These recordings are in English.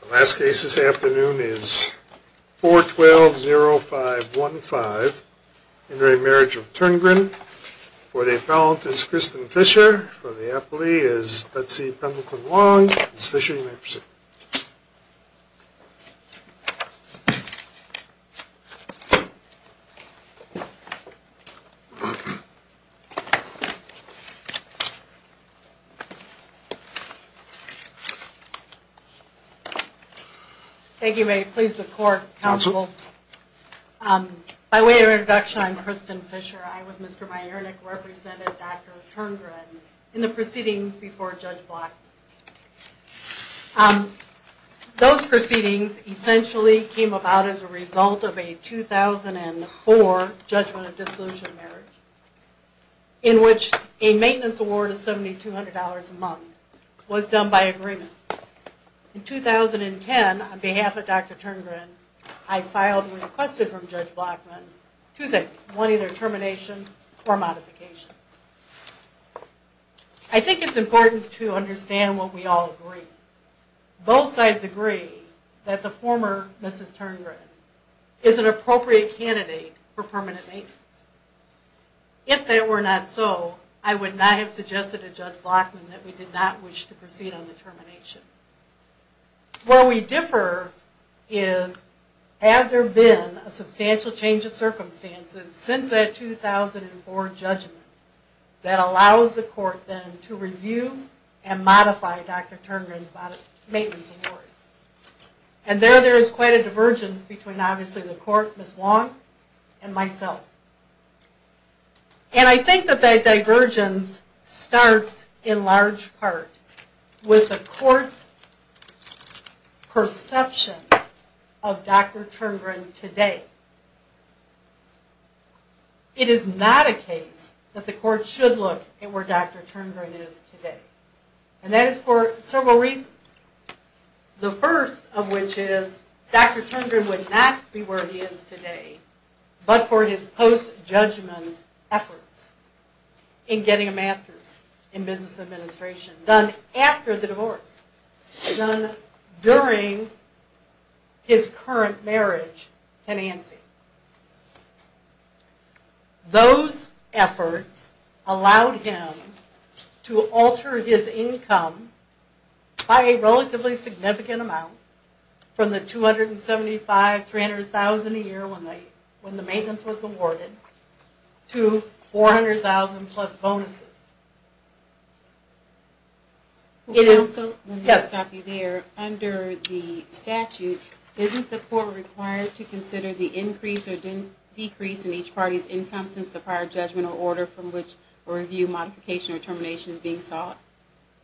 The last case this afternoon is 4-12-05-15. In re. Marriage of Turngren, for the appellant is Kristen Fisher, for the appellee is Betsy Pendleton-Wong. Ms. Fisher, you may proceed. Thank you. May it please the court, counsel. By way of introduction, I'm Kristen Fisher. I, with Mr. Majernik, represented Dr. Turngren in the proceedings before Judge Black. Those proceedings essentially came about as a result of a 2004 judgment of dissolution of marriage in which a maintenance award of $7,200 a month was done by agreement. In 2010, on behalf of Dr. Turngren, I filed and requested from Judge Blackman two things. One, either termination or modification. I think it's important to understand what we all agree. Both sides agree that the former Mrs. Turngren is an appropriate candidate for permanent maintenance. If that were not so, I would not have suggested to Judge Blackman that we did not wish to proceed on the termination. Where we differ is, have there been a substantial change of circumstances since that 2004 judgment that allows the court then to review and modify Dr. Turngren's maintenance award? And there, there is quite a divergence between obviously the court, Ms. Wong, and myself. And I think that that divergence starts in large part with the court's perception of Dr. Turngren today. It is not a case that the court should look at where Dr. Turngren is today. And that is for several reasons. The first of which is, Dr. Turngren would not be where he is today, but for his post-judgment efforts in getting a master's in business administration done after the divorce. Done during his current marriage tenancy. Those efforts allowed him to alter his income by a relatively significant amount from the $275,000-$300,000 a year when the maintenance was awarded to $400,000 plus bonuses. And also, let me stop you there. Under the statute, isn't the court required to consider the increase or decrease in each party's income since the prior judgment or order from which a review, modification, or termination is being sought?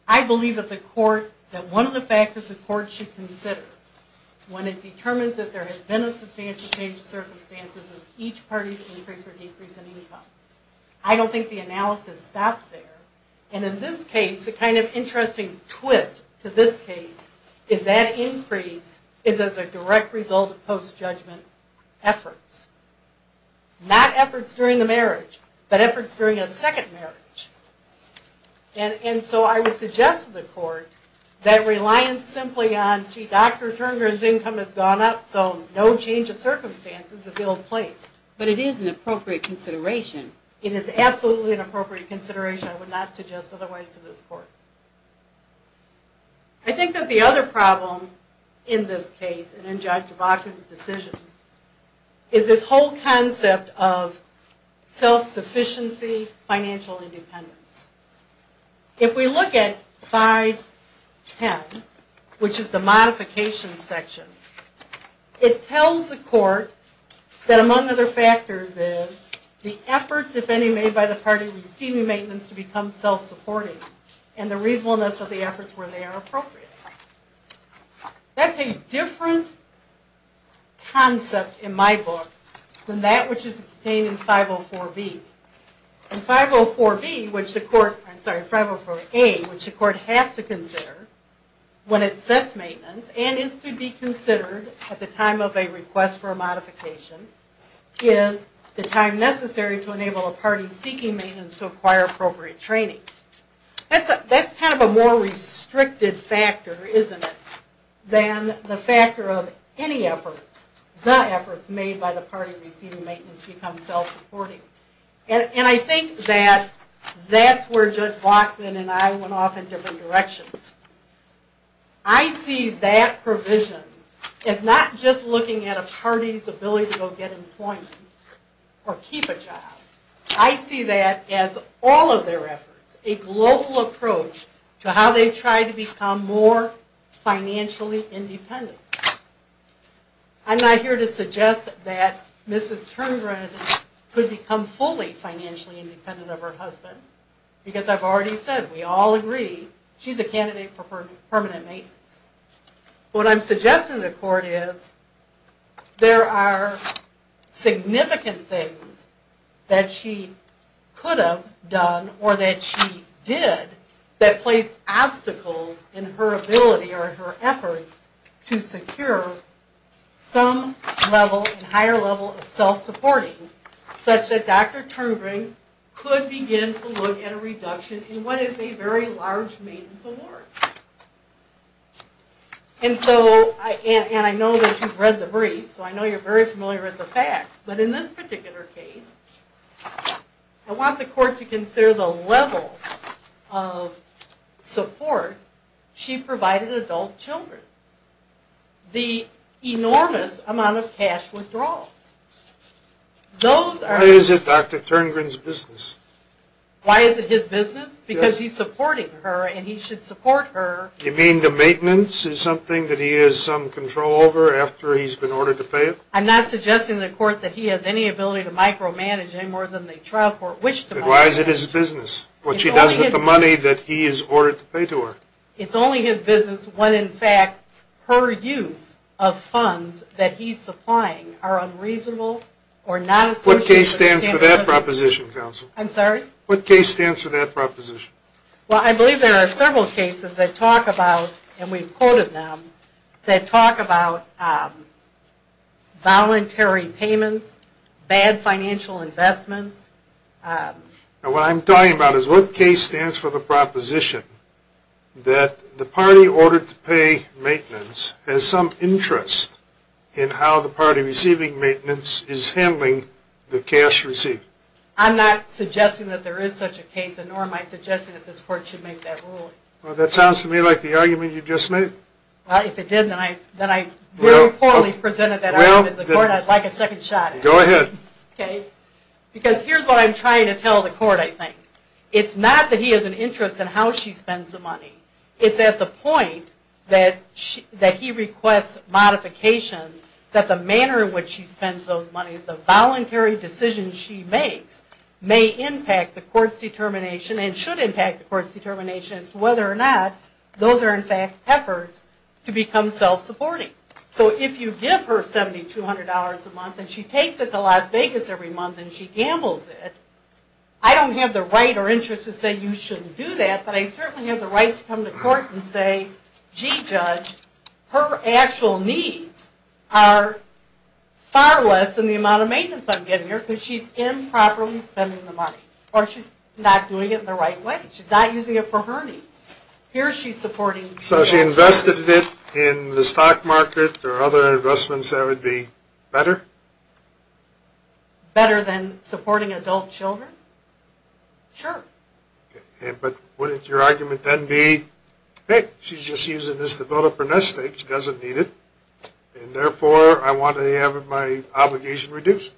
I believe that the court, that one of the factors the court should consider when it determines that there has been a substantial change of circumstances is each party's increase or decrease in income. I don't think the analysis stops there. And in this case, the kind of interesting twist to this case is that increase is as a direct result of post-judgment efforts. Not efforts during the marriage, but efforts during a second marriage. And so I would suggest to the court that reliance simply on, gee, Dr. Turngren's income has gone up, so no change of circumstances is ill-placed. But it is an appropriate consideration. It is absolutely an appropriate consideration. I would not suggest otherwise to this court. I think that the other problem in this case, and in Judge DeBacco's decision, is this whole concept of self-sufficiency, financial independence. If we look at 510, which is the modification section, it tells the court that among other factors is the efforts, if any, made by the party receiving maintenance to become self-supporting, and the reasonableness of the efforts where they are appropriate. That's a different concept in my book than that which is contained in 504B. And 504A, which the court has to consider when it sets maintenance, and is to be considered at the time of a request for a modification, is the time necessary to enable a party seeking maintenance to acquire appropriate training. That's kind of a more restricted factor, isn't it, than the factor of any efforts, the efforts made by the party receiving maintenance to become self-supporting. And I think that that's where Judge Bachman and I went off in different directions. I see that provision as not just looking at a party's ability to go get employment or keep a job. I see that as all of their efforts, a global approach to how they try to become more financially independent. I'm not here to suggest that Mrs. Turngren could become fully financially independent of her husband, because I've already said we all agree she's a candidate for permanent maintenance. What I'm suggesting to the court is there are significant things that she could have done or that she did that placed obstacles in her ability or her efforts to secure some level, a higher level of self-supporting, such that Dr. Turngren could begin to look at a reduction in what is a very large maintenance award. And so, and I know that you've read the briefs, so I know you're very familiar with the facts, but in this particular case, I want the court to consider the level of support she provided adult children. The enormous amount of cash withdrawals. Those are... Why is it Dr. Turngren's business? Why is it his business? Because he's supporting her and he should support her. You mean the maintenance is something that he has some control over after he's been ordered to pay it? I'm not suggesting to the court that he has any ability to micromanage any more than the trial court wished him. Then why is it his business, what she does with the money that he has ordered to pay to her? It's only his business when, in fact, her use of funds that he's supplying are unreasonable or not associated... What case stands for that proposition, counsel? I'm sorry? What case stands for that proposition? Well, I believe there are several cases that talk about, and we've quoted them, that talk about voluntary payments, bad financial investments... What I'm talking about is what case stands for the proposition that the party ordered to pay maintenance has some interest in how the party receiving maintenance is handling the cash received? I'm not suggesting that there is such a case, nor am I suggesting that this court should make that ruling. Well, that sounds to me like the argument you just made. Well, if it did, then I really poorly presented that argument to the court. I'd like a second shot at it. Go ahead. Okay, because here's what I'm trying to tell the court, I think. It's not that he has an interest in how she spends the money. It's at the point that he requests modification that the manner in which she spends those money, the voluntary decisions she makes, may impact the court's determination and should impact the court's determination as to whether or not those are, in fact, efforts to become self-supporting. So if you give her $7,200 a month and she takes it to Las Vegas every month and she gambles it, I don't have the right or interest to say you shouldn't do that, but I certainly have the right to come to court and say, gee, Judge, her actual needs are far less than the amount of maintenance I'm getting here because she's improperly spending the money, or she's not doing it the right way. She's not using it for her needs. Here she's supporting... So if she invested it in the stock market or other investments, that would be better? Better than supporting adult children? Sure. But wouldn't your argument then be, hey, she's just using this to build up her nest egg, she doesn't need it, and therefore I want to have my obligation reduced?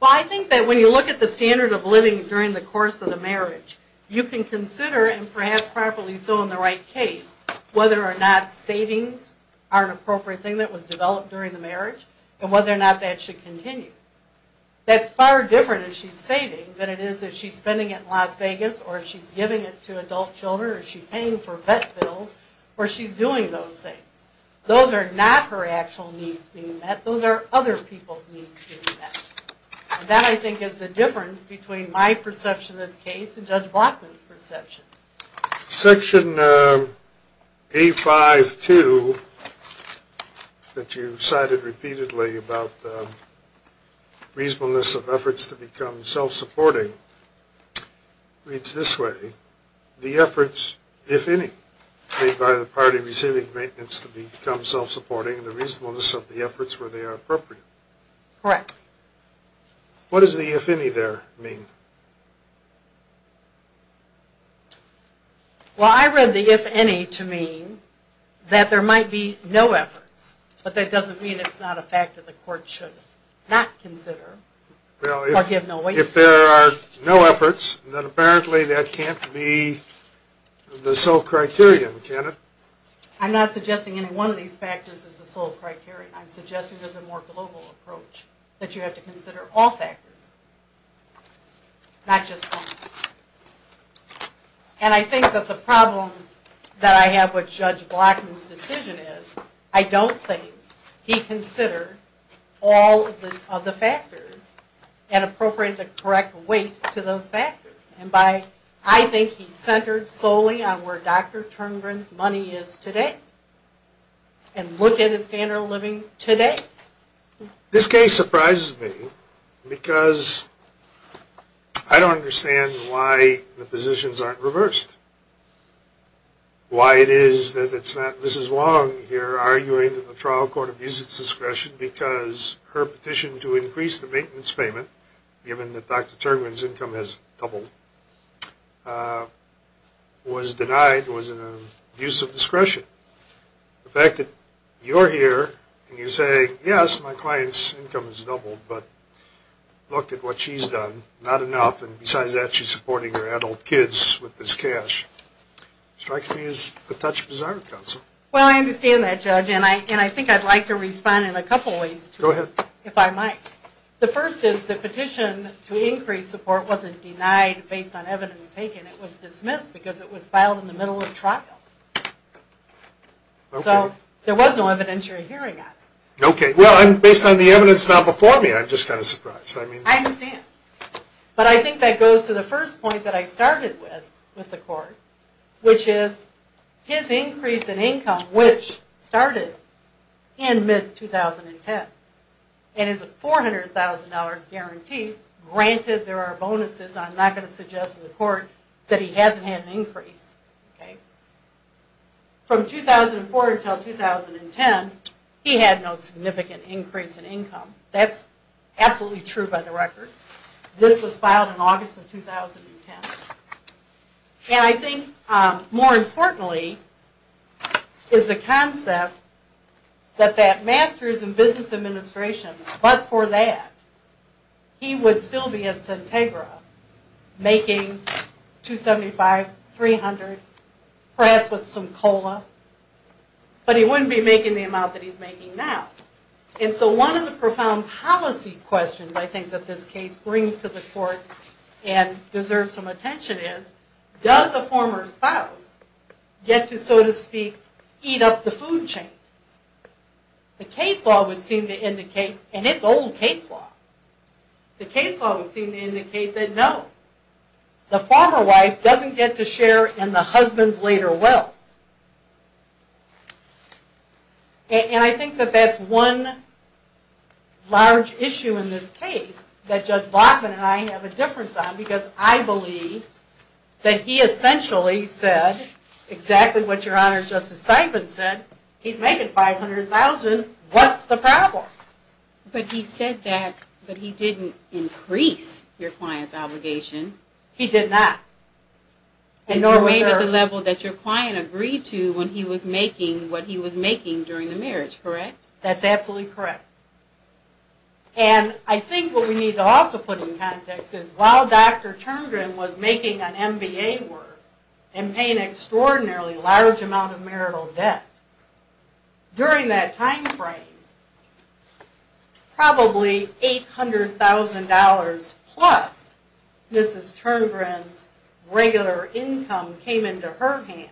Well, I think that when you look at the standard of living during the course of the marriage, you can consider, and perhaps properly so in the right case, whether or not savings are an appropriate thing that was developed during the marriage and whether or not that should continue. That's far different if she's saving than it is if she's spending it in Las Vegas or if she's giving it to adult children or if she's paying for vet bills or she's doing those things. Those are not her actual needs being met. Those are other people's needs being met. And that, I think, is the difference between my perception of this case and Judge Blockman's perception. Section A-5-2 that you cited repeatedly about reasonableness of efforts to become self-supporting reads this way. The efforts, if any, made by the party receiving maintenance to become self-supporting and the reasonableness of the efforts where they are appropriate. Correct. What does the if any there mean? Well, I read the if any to mean that there might be no efforts, but that doesn't mean it's not a fact that the court should not consider or give no weight to. Well, if there are no efforts, then apparently that can't be the sole criterion, can it? I'm not suggesting any one of these factors is the sole criterion. I'm suggesting there's a more global approach, that you have to consider all factors, not just one. And I think that the problem that I have with Judge Blockman's decision is I don't think he considered all of the factors and appropriated the correct weight to those factors. And I think he centered solely on where Dr. Terngren's money is today and looked at his standard of living today. This case surprises me because I don't understand why the positions aren't reversed. Why it is that it's not Mrs. Wong here arguing that the trial court abuses discretion because her petition to increase the maintenance payment, given that Dr. Terngren's income has doubled, was denied, was an abuse of discretion. The fact that you're here and you say, yes, my client's income has doubled, but look at what she's done. Not enough. And besides that, she's supporting her adult kids with this cash. Strikes me as a touch bizarre, counsel. Well, I understand that, Judge. And I think I'd like to respond in a couple ways, too, if I might. The first is the petition to increase support wasn't denied based on evidence taken. It was dismissed because it was filed in the middle of trial. So there was no evidentiary hearing on it. Okay. Well, based on the evidence now before me, I'm just kind of surprised. I understand. But I think that goes to the first point that I started with with the court, which is his increase in income, which started in mid-2010, and is a $400,000 guarantee. Granted, there are bonuses. I'm not going to suggest to the court that he hasn't had an increase. Okay. From 2004 until 2010, he had no significant increase in income. That's absolutely true by the record. This was filed in August of 2010. And I think more importantly is the concept that that Masters in Business Administration, but for that, he would still be at Sintegra making $275,000, $300,000, perhaps with some COLA. But he wouldn't be making the amount that he's making now. And so one of the profound policy questions I think that this case brings to the court and deserves some attention is, does a former spouse get to, so to speak, eat up the food chain? The case law would seem to indicate, and it's old case law, the case law would seem to indicate that no. The former wife doesn't get to share in the husband's later wealth. And I think that that's one large issue in this case that Judge Bachman and I have a difference on because I believe that he essentially said exactly what Your Honor, Justice Steinman said. He's making $500,000. What's the problem? But he said that, but he didn't increase your client's obligation. He did not. And you made it to the level that your client agreed to when he was making what he was making during the marriage, correct? That's absolutely correct. And I think what we need to also put in context is while Dr. Terngren was making an MBA work and paying an extraordinarily large amount of marital debt, during that time frame, probably $800,000 plus Mrs. Terngren's regular income came into her hands.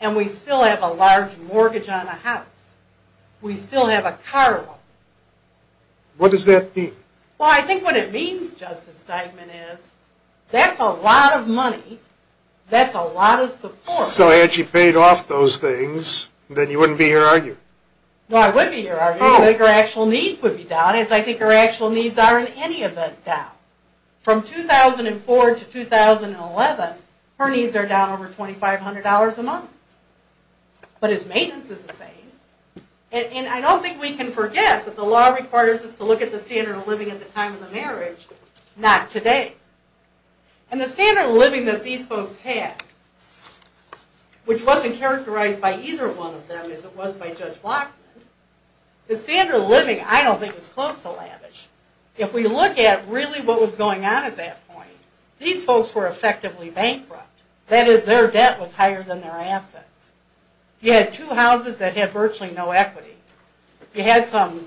And we still have a large mortgage on a house. We still have a car loan. What does that mean? Well, I think what it means, Justice Steinman, is that's a lot of money. That's a lot of support. So had she paid off those things, then you wouldn't be here, are you? No, I would be here, are you? I think her actual needs would be down, as I think her actual needs are in any event down. From 2004 to 2011, her needs are down over $2,500 a month. But his maintenance is the same. And I don't think we can forget that the law requires us to look at the standard of living at the time of the marriage, not today. And the standard of living that these folks had, which wasn't characterized by either one of them as it was by Judge Blockman, the standard of living I don't think is close to lavish. If we look at really what was going on at that point, these folks were effectively bankrupt. That is, their debt was higher than their assets. You had two houses that had virtually no equity. You had some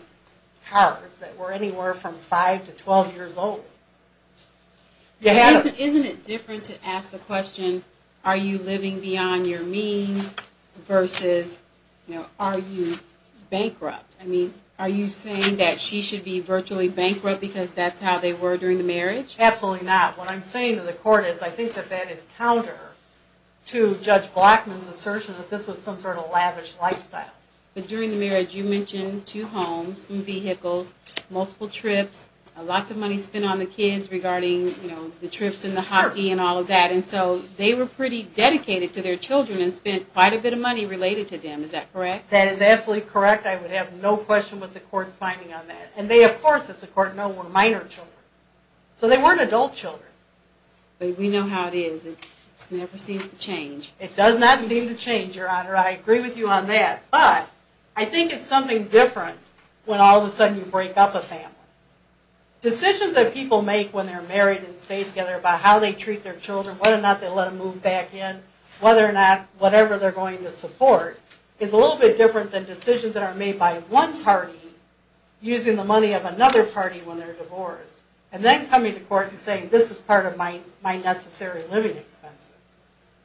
cars that were anywhere from 5 to 12 years old. Isn't it different to ask the question, are you living beyond your means versus are you bankrupt? I mean, are you saying that she should be virtually bankrupt because that's how they were during the marriage? Absolutely not. What I'm saying to the court is I think that that is counter to Judge Blockman's assertion that this was some sort of lavish lifestyle. But during the marriage, you mentioned two homes, some vehicles, multiple trips, lots of money spent on the kids regarding the trips and the hockey and all of that. And so they were pretty dedicated to their children and spent quite a bit of money related to them. Is that correct? That is absolutely correct. I would have no question what the court's finding on that. And they, of course, as the court knows, were minor children. So they weren't adult children. But we know how it is. It never seems to change. It does not seem to change, Your Honor. I agree with you on that. But I think it's something different when all of a sudden you break up a family. Decisions that people make when they're married and stay together about how they treat their children, whether or not they let them move back in, whether or not whatever they're going to support is a little bit different than decisions that are made by one party using the money of another party when they're divorced and then coming to court and saying this is part of my necessary living expenses.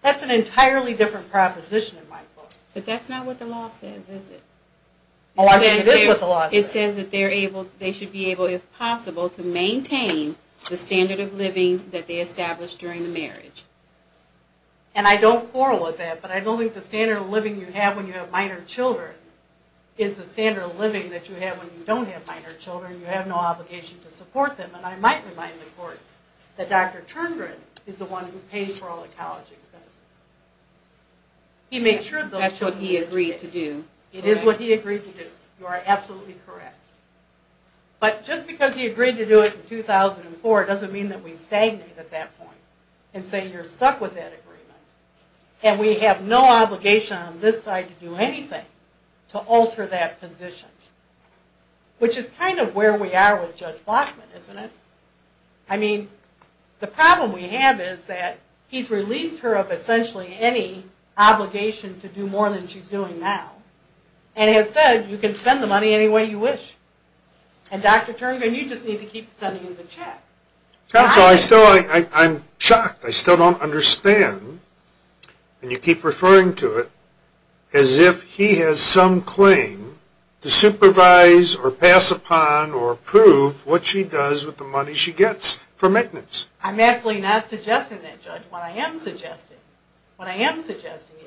That's an entirely different proposition in my book. But that's not what the law says, is it? Oh, I think it is what the law says. It says that they should be able, if possible, to maintain the standard of living that they established during the marriage. And I don't quarrel with that. But I don't think the standard of living you have when you have minor children is the standard of living that you have when you don't have minor children. You have no obligation to support them. And I might remind the court that Dr. Turndren is the one who pays for all the college expenses. That's what he agreed to do. It is what he agreed to do. You are absolutely correct. But just because he agreed to do it in 2004 doesn't mean that we stagnate at that point and say you're stuck with that agreement. And we have no obligation on this side to do anything to alter that position, which is kind of where we are with Judge Bachman, isn't it? I mean, the problem we have is that he's released her of essentially any obligation to do more than she's doing now, and has said you can spend the money any way you wish. And Dr. Turndren, you just need to keep sending him the check. Counsel, I'm shocked. I still don't understand, and you keep referring to it, as if he has some claim to supervise or pass upon or approve what she does with the money she gets for maintenance. I'm absolutely not suggesting that, Judge. What I am suggesting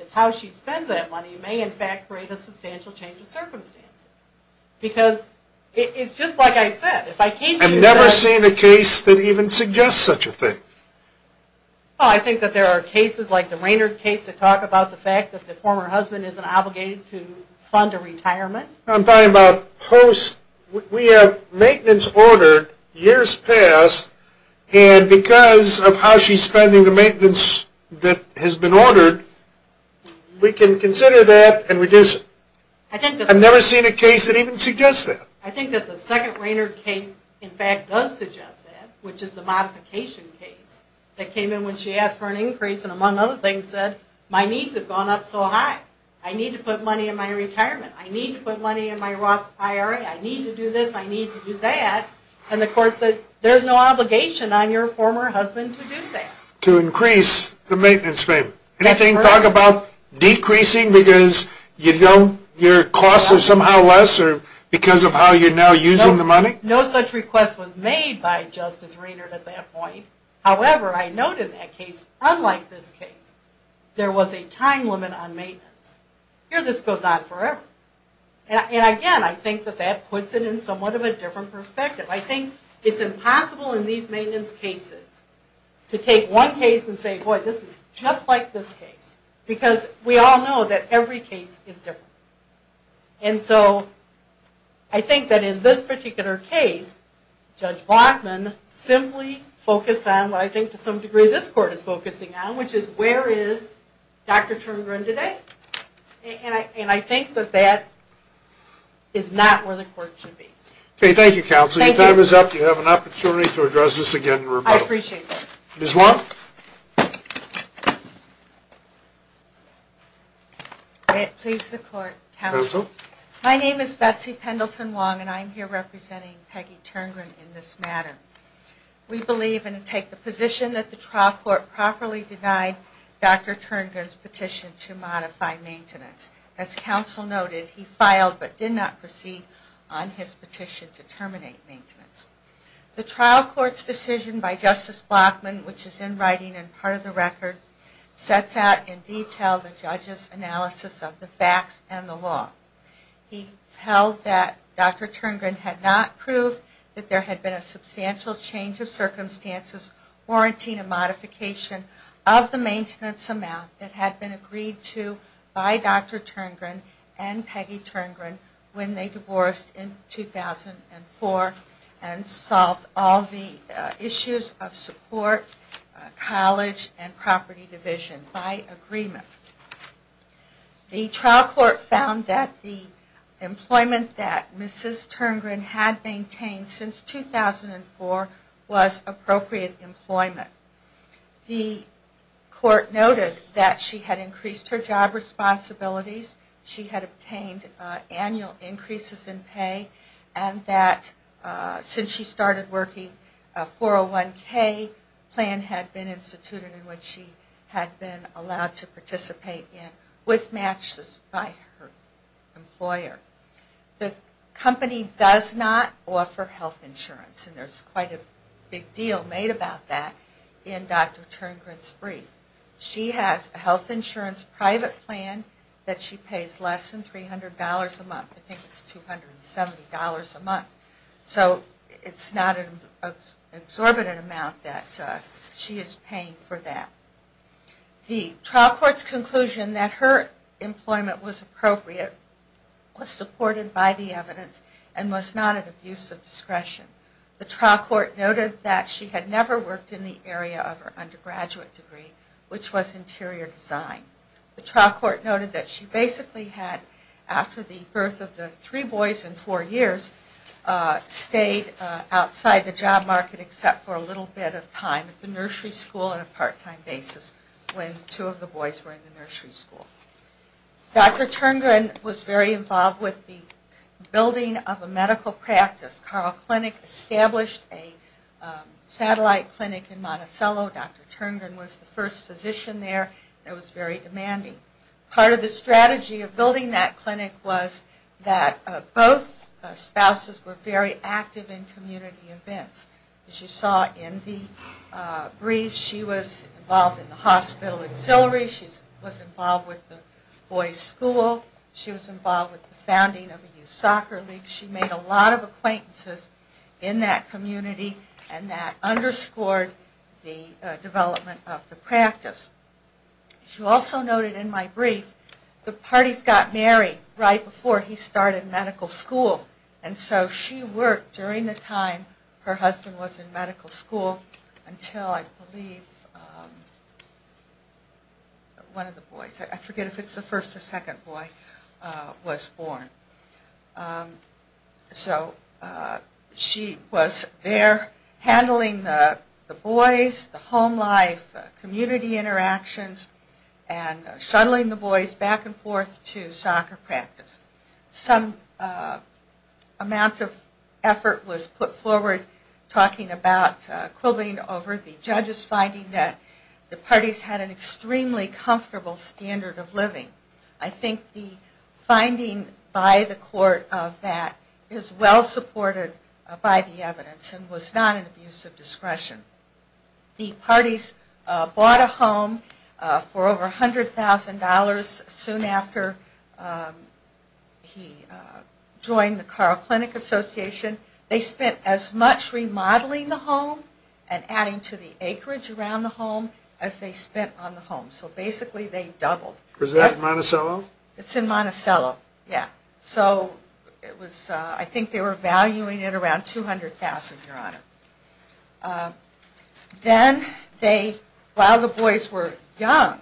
is how she spends that money may in fact create a substantial change of circumstances. Because it's just like I said. I've never seen a case that even suggests such a thing. I think that there are cases like the Raynard case that talk about the fact that the former husband isn't obligated to fund a retirement. I'm talking about post. We have maintenance ordered years past, and because of how she's spending the maintenance that has been ordered, we can consider that and reduce it. I've never seen a case that even suggests that. I think that the second Raynard case in fact does suggest that, which is the modification case that came in when she asked for an increase and among other things said, my needs have gone up so high. I need to put money in my retirement. I need to put money in my Roth IRA. I need to do this. I need to do that. And the court said, there's no obligation on your former husband to do that. To increase the maintenance payment. Anything to talk about decreasing because your costs are somehow lesser because of how you're now using the money? No such request was made by Justice Raynard at that point. However, I note in that case, unlike this case, there was a time limit on maintenance. Here this goes on forever. And again, I think that that puts it in somewhat of a different perspective. I think it's impossible in these maintenance cases to take one case and say, boy, this is just like this case. Because we all know that every case is different. And so I think that in this particular case, Judge Blockman simply focused on what I think to some degree this court is focusing on, which is where is Dr. Terngren today? And I think that that is not where the court should be. Okay, thank you, Counsel. Your time is up. You have an opportunity to address this again in rebuttal. I appreciate that. Ms. Wong. May it please the court, Counsel. Counsel. My name is Betsy Pendleton Wong, and I'm here representing Peggy Terngren in this matter. We believe and take the position that the trial court properly denied Dr. Terngren's petition to modify maintenance. As Counsel noted, he filed but did not proceed on his petition to terminate maintenance. The trial court's decision by Justice Blockman, which is in writing and part of the record, sets out in detail the judge's analysis of the facts and the law. He tells that Dr. Terngren had not proved that there had been a substantial change of circumstances warranting a modification of the maintenance amount that had been agreed to by Dr. Terngren and Peggy Terngren when they divorced in 2004 and solved all the issues of support, college, and property division by agreement. The trial court found that the employment that Mrs. Terngren had maintained since 2004 was appropriate employment. The court noted that she had increased her job responsibilities, she had obtained annual increases in pay, and that since she started working, a 401K plan had been instituted in which she had been allowed to participate in with matches by her employer. The company does not offer health insurance, and there's quite a big deal made about that in Dr. Terngren's brief. She has a health insurance private plan that she pays less than $300 a month. I think it's $270 a month. So it's not an exorbitant amount that she is paying for that. The trial court's conclusion that her employment was appropriate was supported by the evidence and was not an abuse of discretion. The trial court noted that she had never worked in the area of her undergraduate degree, which was interior design. The trial court noted that she basically had, after the birth of the three boys in four years, stayed outside the job market except for a little bit of time at the nursery school on a part-time basis when two of the boys were in the nursery school. Dr. Terngren was very involved with the building of a medical practice. Carl Clinic established a satellite clinic in Monticello. Dr. Terngren was the first physician there, and it was very demanding. Part of the strategy of building that clinic was that both spouses were very active in community events. As you saw in the brief, she was involved in the hospital auxiliary. She was involved with the boys' school. She was involved with the founding of a youth soccer league. She made a lot of acquaintances in that community, and that underscored the development of the practice. She also noted in my brief the parties got married right before he started medical school. She worked during the time her husband was in medical school until, I believe, one of the boys, I forget if it's the first or second boy, was born. She was there handling the boys, the home life, community interactions, and shuttling the boys back and forth to soccer practice. Some amount of effort was put forward talking about quibbling over the judge's finding that the parties had an extremely comfortable standard of living. I think the finding by the court of that is well supported by the evidence and was not an abuse of discretion. The parties bought a home for over $100,000 soon after he joined the Carle Clinic Association. They spent as much remodeling the home and adding to the acreage around the home as they spent on the home. So basically they doubled. Was that in Monticello? It's in Monticello, yeah. So I think they were valuing it around $200,000, Your Honor. Then while the boys were young,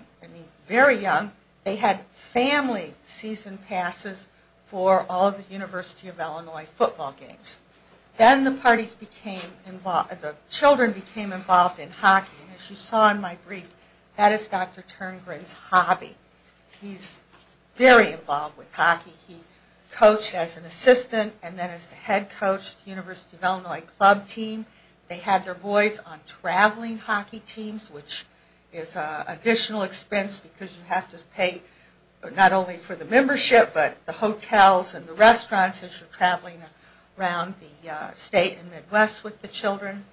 very young, they had family season passes for all the University of Illinois football games. Then the children became involved in hockey. As you saw in my brief, that is Dr. Terngren's hobby. He's very involved with hockey. He coached as an assistant and then as the head coach of the University of Illinois club team. They had their boys on traveling hockey teams, which is an additional expense because you have to pay not only for the membership but the hotels and the restaurants as you're traveling around the state and Midwest with the children.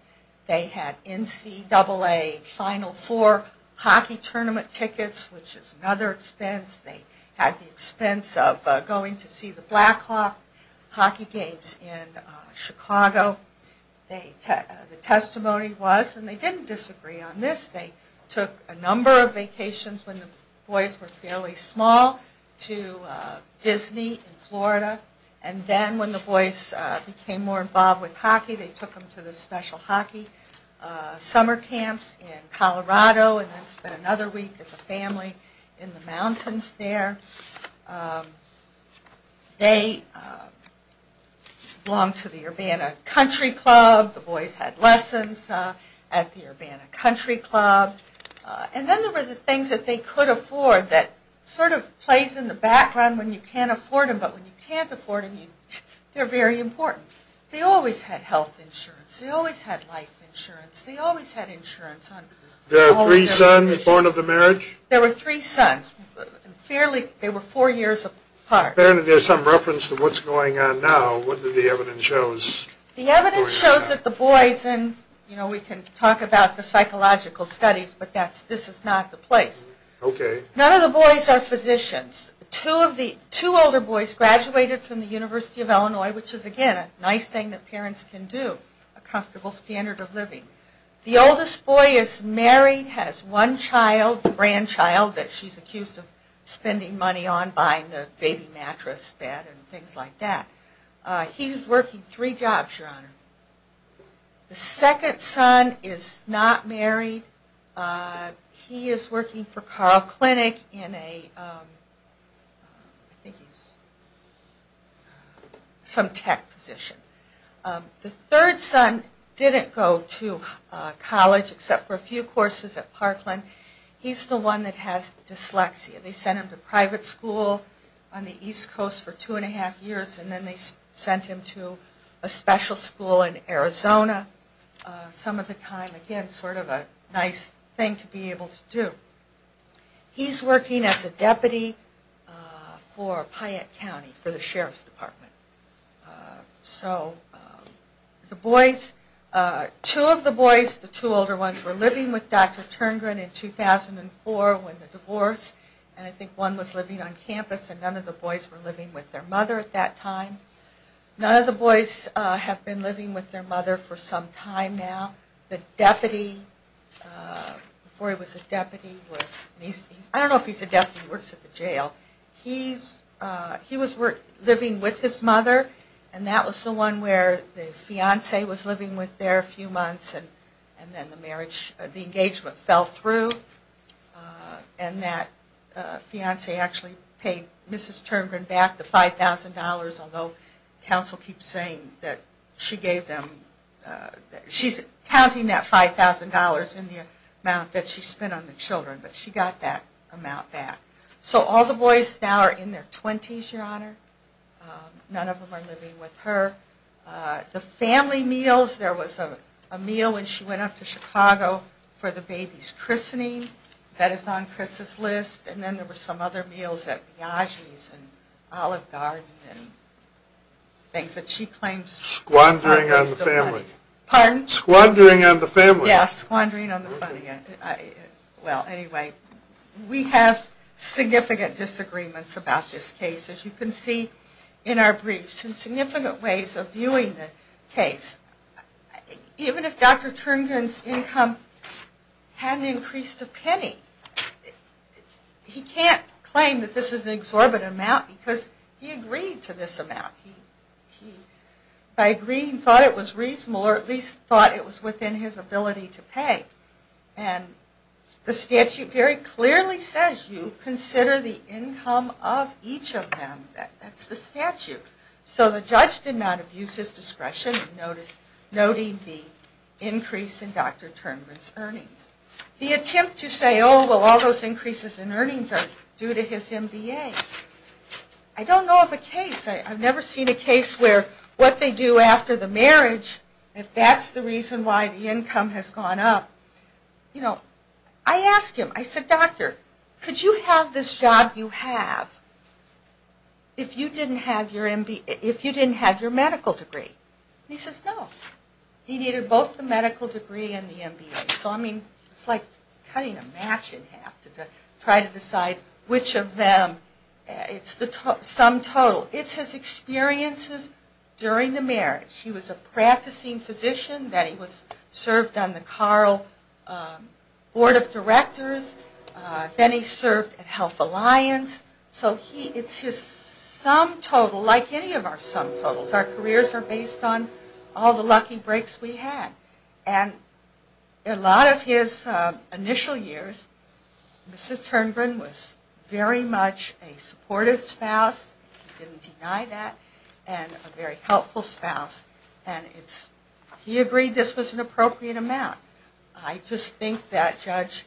They had NCAA Final Four hockey tournament tickets, which is another expense. They had the expense of going to see the Blackhawk hockey games in Chicago. The testimony was, and they didn't disagree on this, they took a number of vacations when the boys were fairly small to Disney in Florida. And then when the boys became more involved with hockey, they took them to the special hockey summer camps in Colorado and then spent another week as a family in the mountains there. They belonged to the Urbana Country Club. The boys had lessons at the Urbana Country Club. And then there were the things that they could afford that sort of plays in the background when you can't afford them. But when you can't afford them, they're very important. They always had health insurance. They always had life insurance. They always had insurance. There were three sons born of the marriage? There were three sons. They were four years apart. Apparently there's some reference to what's going on now. What did the evidence show? The evidence shows that the boys, and we can talk about the psychological studies, but this is not the place. None of the boys are physicians. Two older boys graduated from the University of Illinois, which is again a nice thing that parents can do. A comfortable standard of living. The oldest boy is married, has one child, a grandchild that she's accused of spending money on buying the baby mattress bed and things like that. He's working three jobs, Your Honor. The second son is not married. He is working for Carl Clinic in a, I think he's some tech position. The third son didn't go to college except for a few courses at Parkland. He's the one that has dyslexia. They sent him to private school on the East Coast for two and a half years, and then they sent him to a special school in Arizona some of the time. Again, sort of a nice thing to be able to do. He's working as a deputy for Piatt County for the Sheriff's Department. So the boys, two of the boys, the two older ones, were living with Dr. Terngren in 2004 when the divorce, and I think one was living on campus and none of the boys were living with their mother at that time. None of the boys have been living with their mother for some time now. The deputy, before he was a deputy, I don't know if he's a deputy, he works at the jail. He was living with his mother, and that was the one where the fiance was living with there a few months, and then the marriage, the engagement fell through, and that fiance actually paid Mrs. Terngren back the $5,000, although counsel keeps saying that she gave them, she's counting that $5,000 in the amount that she spent on the children, but she got that amount back. So all the boys now are in their 20s, Your Honor. None of them are living with her. The family meals, there was a meal when she went off to Chicago for the baby's christening. That is on Chris's list, and then there were some other meals at Biagi's and Olive Garden and things that she claims Squandering on the family. Pardon? Squandering on the family. Yeah, squandering on the family. Well, anyway, we have significant disagreements about this case, as you can see in our briefs, and significant ways of viewing the case. Even if Dr. Terngren's income hadn't increased a penny, he can't claim that this is an exorbitant amount because he agreed to this amount. He, by agreeing, thought it was reasonable, or at least thought it was within his ability to pay. And the statute very clearly says you consider the income of each of them. That's the statute. So the judge did not abuse his discretion, noting the increase in Dr. Terngren's earnings. The attempt to say, oh, well, all those increases in earnings are due to his MBA. I don't know of a case, I've never seen a case where what they do after the marriage, if that's the reason why the income has gone up. You know, I asked him, I said, doctor, could you have this job you have if you didn't have your medical degree? And he says no. So, I mean, it's like cutting a match in half to try to decide which of them. It's the sum total. It's his experiences during the marriage. He was a practicing physician. Then he served on the Carl Board of Directors. Then he served at Health Alliance. So it's his sum total, like any of our sum totals. Our careers are based on all the lucky breaks we had. And a lot of his initial years, Mrs. Terngren was very much a supportive spouse. He didn't deny that. And a very helpful spouse. And he agreed this was an appropriate amount. I just think that Judge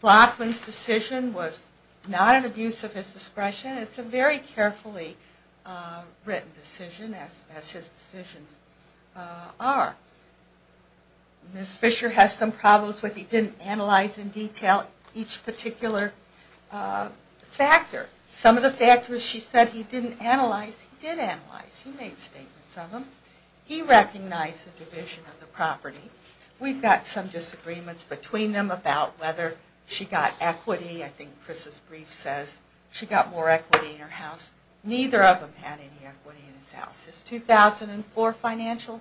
Blackman's decision was not an abuse of his discretion. It's a very carefully written decision, as his decisions are. Ms. Fisher has some problems with he didn't analyze in detail each particular factor. Some of the factors she said he didn't analyze, he did analyze. He made statements of them. He recognized the division of the property. We've got some disagreements between them about whether she got equity. I think Chris's brief says she got more equity in her house. Neither of them had any equity in his house. His 2004 financial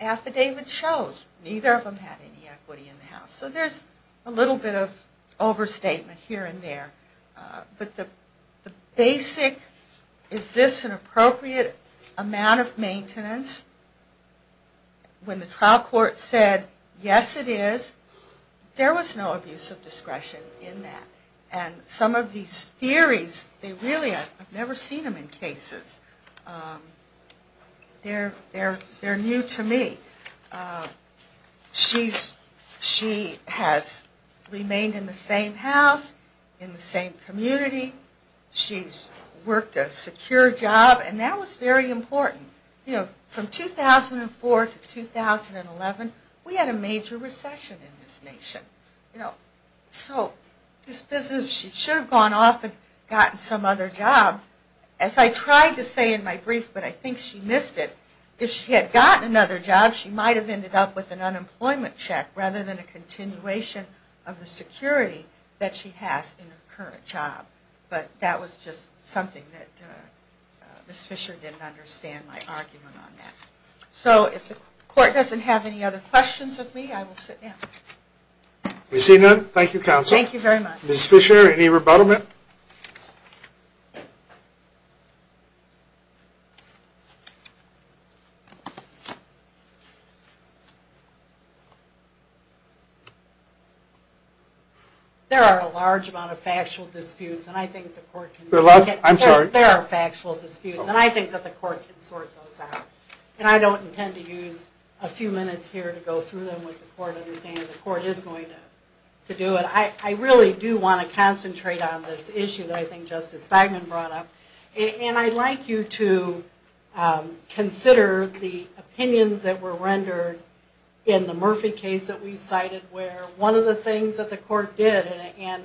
affidavit shows neither of them had any equity in the house. So there's a little bit of overstatement here and there. But the basic, is this an appropriate amount of maintenance? When the trial court said, yes it is, there was no abuse of discretion in that. And some of these theories, I've never seen them in cases. They're new to me. She has remained in the same house, in the same community. She's worked a secure job, and that was very important. From 2004 to 2011, we had a major recession in this nation. So this business, she should have gone off and gotten some other job. As I tried to say in my brief, but I think she missed it. If she had gotten another job, she might have ended up with an unemployment check, rather than a continuation of the security that she has in her current job. But that was just something that Ms. Fisher didn't understand my argument on that. So if the court doesn't have any other questions of me, I will sit down. We see none. Thank you counsel. Thank you very much. Ms. Fisher, any rebuttal, ma'am? There are a large amount of factual disputes, and I think the court can sort those out. And I don't intend to use a few minutes here to go through them with the court, understanding the court is going to do it. I really do want to concentrate on this issue that I think Justice Feigman brought up. And I'd like you to consider the opinions that were rendered in the Murphy case that we cited, where one of the things that the court did, and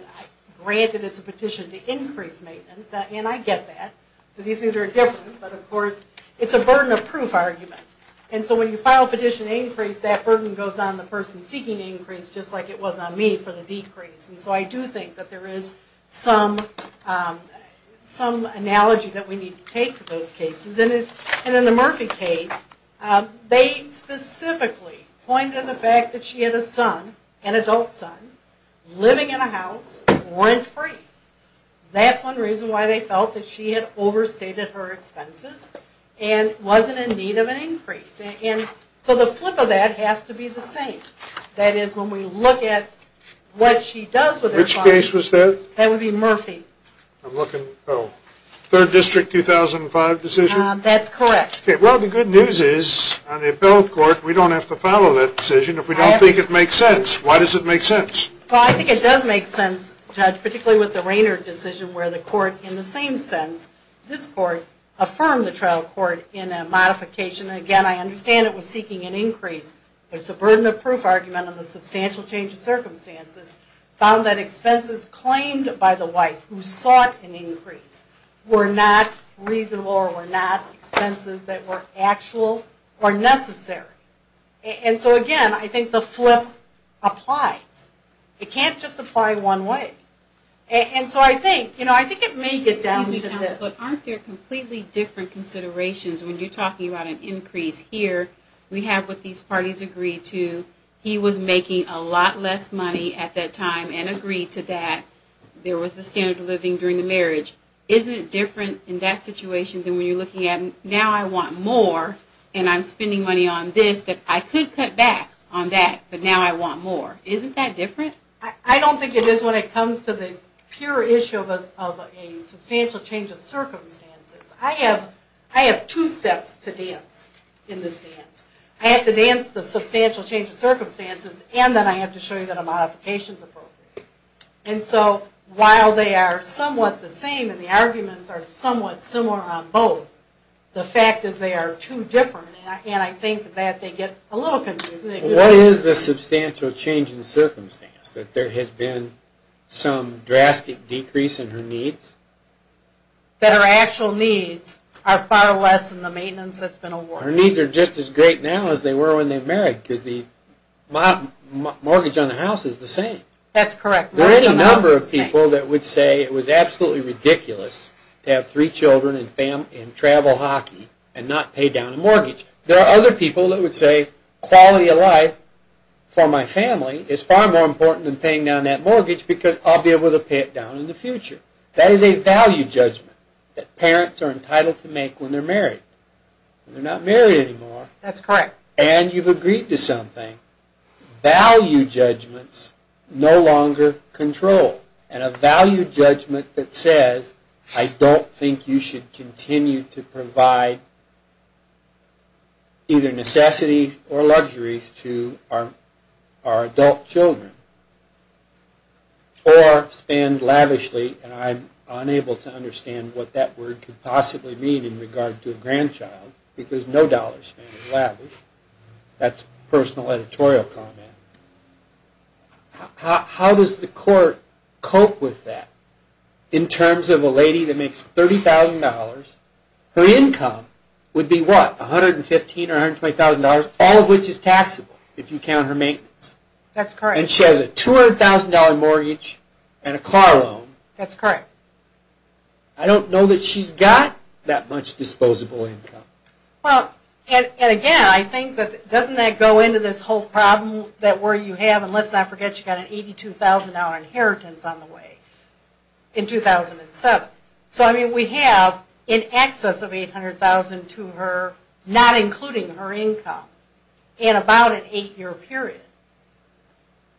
granted it's a petition to increase maintenance, and I get that, these things are different, but of course, it's a burden of proof argument. And so when you file a petition to increase, that burden goes on the person seeking to increase, just like it was on me for the decrease. And so I do think that there is some analogy that we need to take to those cases. And in the Murphy case, they specifically point to the fact that she had a son, an adult son, living in a house, rent free. That's one reason why they felt that she had overstated her expenses, and wasn't in need of an increase. And so the flip of that has to be the same. That is, when we look at what she does with her son. Which case was that? That would be Murphy. I'm looking, oh, 3rd District, 2005 decision? That's correct. Okay, well, the good news is, on the appellate court, we don't have to follow that decision if we don't think it makes sense. Why does it make sense? Well, I think it does make sense, Judge, particularly with the Rainer decision, where the court, in the same sense, this court, affirmed the trial court in a modification. Again, I understand it was seeking an increase. It's a burden of proof argument on the substantial change of circumstances. Found that expenses claimed by the wife, who sought an increase, were not reasonable or were not expenses that were actual or necessary. And so, again, I think the flip applies. It can't just apply one way. And so I think, you know, I think it may get down to this. But aren't there completely different considerations when you're talking about an increase? Here, we have what these parties agreed to. He was making a lot less money at that time and agreed to that. There was the standard of living during the marriage. Isn't it different in that situation than when you're looking at, now I want more, and I'm spending money on this, that I could cut back on that, but now I want more? Isn't that different? I don't think it is when it comes to the pure issue of a substantial change of circumstances. I have two steps to dance in this dance. I have to dance the substantial change of circumstances, and then I have to show you that a modification is appropriate. And so while they are somewhat the same and the arguments are somewhat similar on both, the fact is they are two different, and I think that they get a little confused. What is the substantial change in circumstance? That there has been some drastic decrease in her needs? That her actual needs are far less than the maintenance that's been awarded. Her needs are just as great now as they were when they married because the mortgage on the house is the same. That's correct. There are any number of people that would say it was absolutely ridiculous to have three children and travel hockey and not pay down a mortgage. There are other people that would say quality of life for my family is far more important than paying down that mortgage because I'll be able to pay it down in the future. That is a value judgment that parents are entitled to make when they're married. When they're not married anymore. That's correct. And you've agreed to something. Value judgments no longer control. And a value judgment that says, I don't think you should continue to provide either necessities or luxuries to our adult children or spend lavishly. And I'm unable to understand what that word could possibly mean in regard to a grandchild because no dollar spend is lavish. That's a personal editorial comment. How does the court cope with that? In terms of a lady that makes $30,000, her income would be what? $115,000 or $120,000? All of which is taxable if you count her maintenance. That's correct. And she has a $200,000 mortgage and a car loan. That's correct. I don't know that she's got that much disposable income. Well, and again, I think that doesn't that go into this whole problem that where you have, and let's not forget, you've got an $82,000 inheritance on the way in 2007. So, I mean, we have in excess of $800,000 to her, not including her income, in about an eight-year period.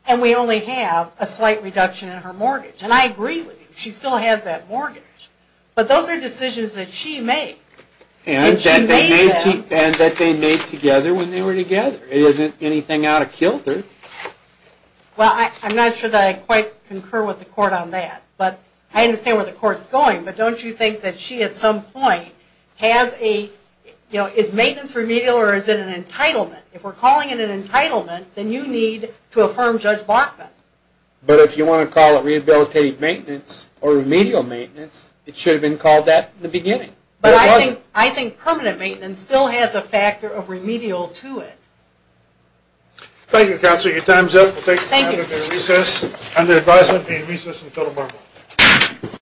And we only have a slight reduction in her mortgage. And I agree with you. She still has that mortgage. But those are decisions that she made. And that they made together when they were together. It isn't anything out of kilter. Well, I'm not sure that I quite concur with the court on that. But I understand where the court's going. But don't you think that she, at some point, has a, you know, is maintenance remedial or is it an entitlement? If we're calling it an entitlement, then you need to affirm Judge Bachman. But if you want to call it rehabilitative maintenance or remedial maintenance, it should have been called that in the beginning. But I think permanent maintenance still has a factor of remedial to it. Thank you, Counselor. Your time's up. We'll take a break. Thank you. We'll take a recess. And the advisory will be recess until tomorrow.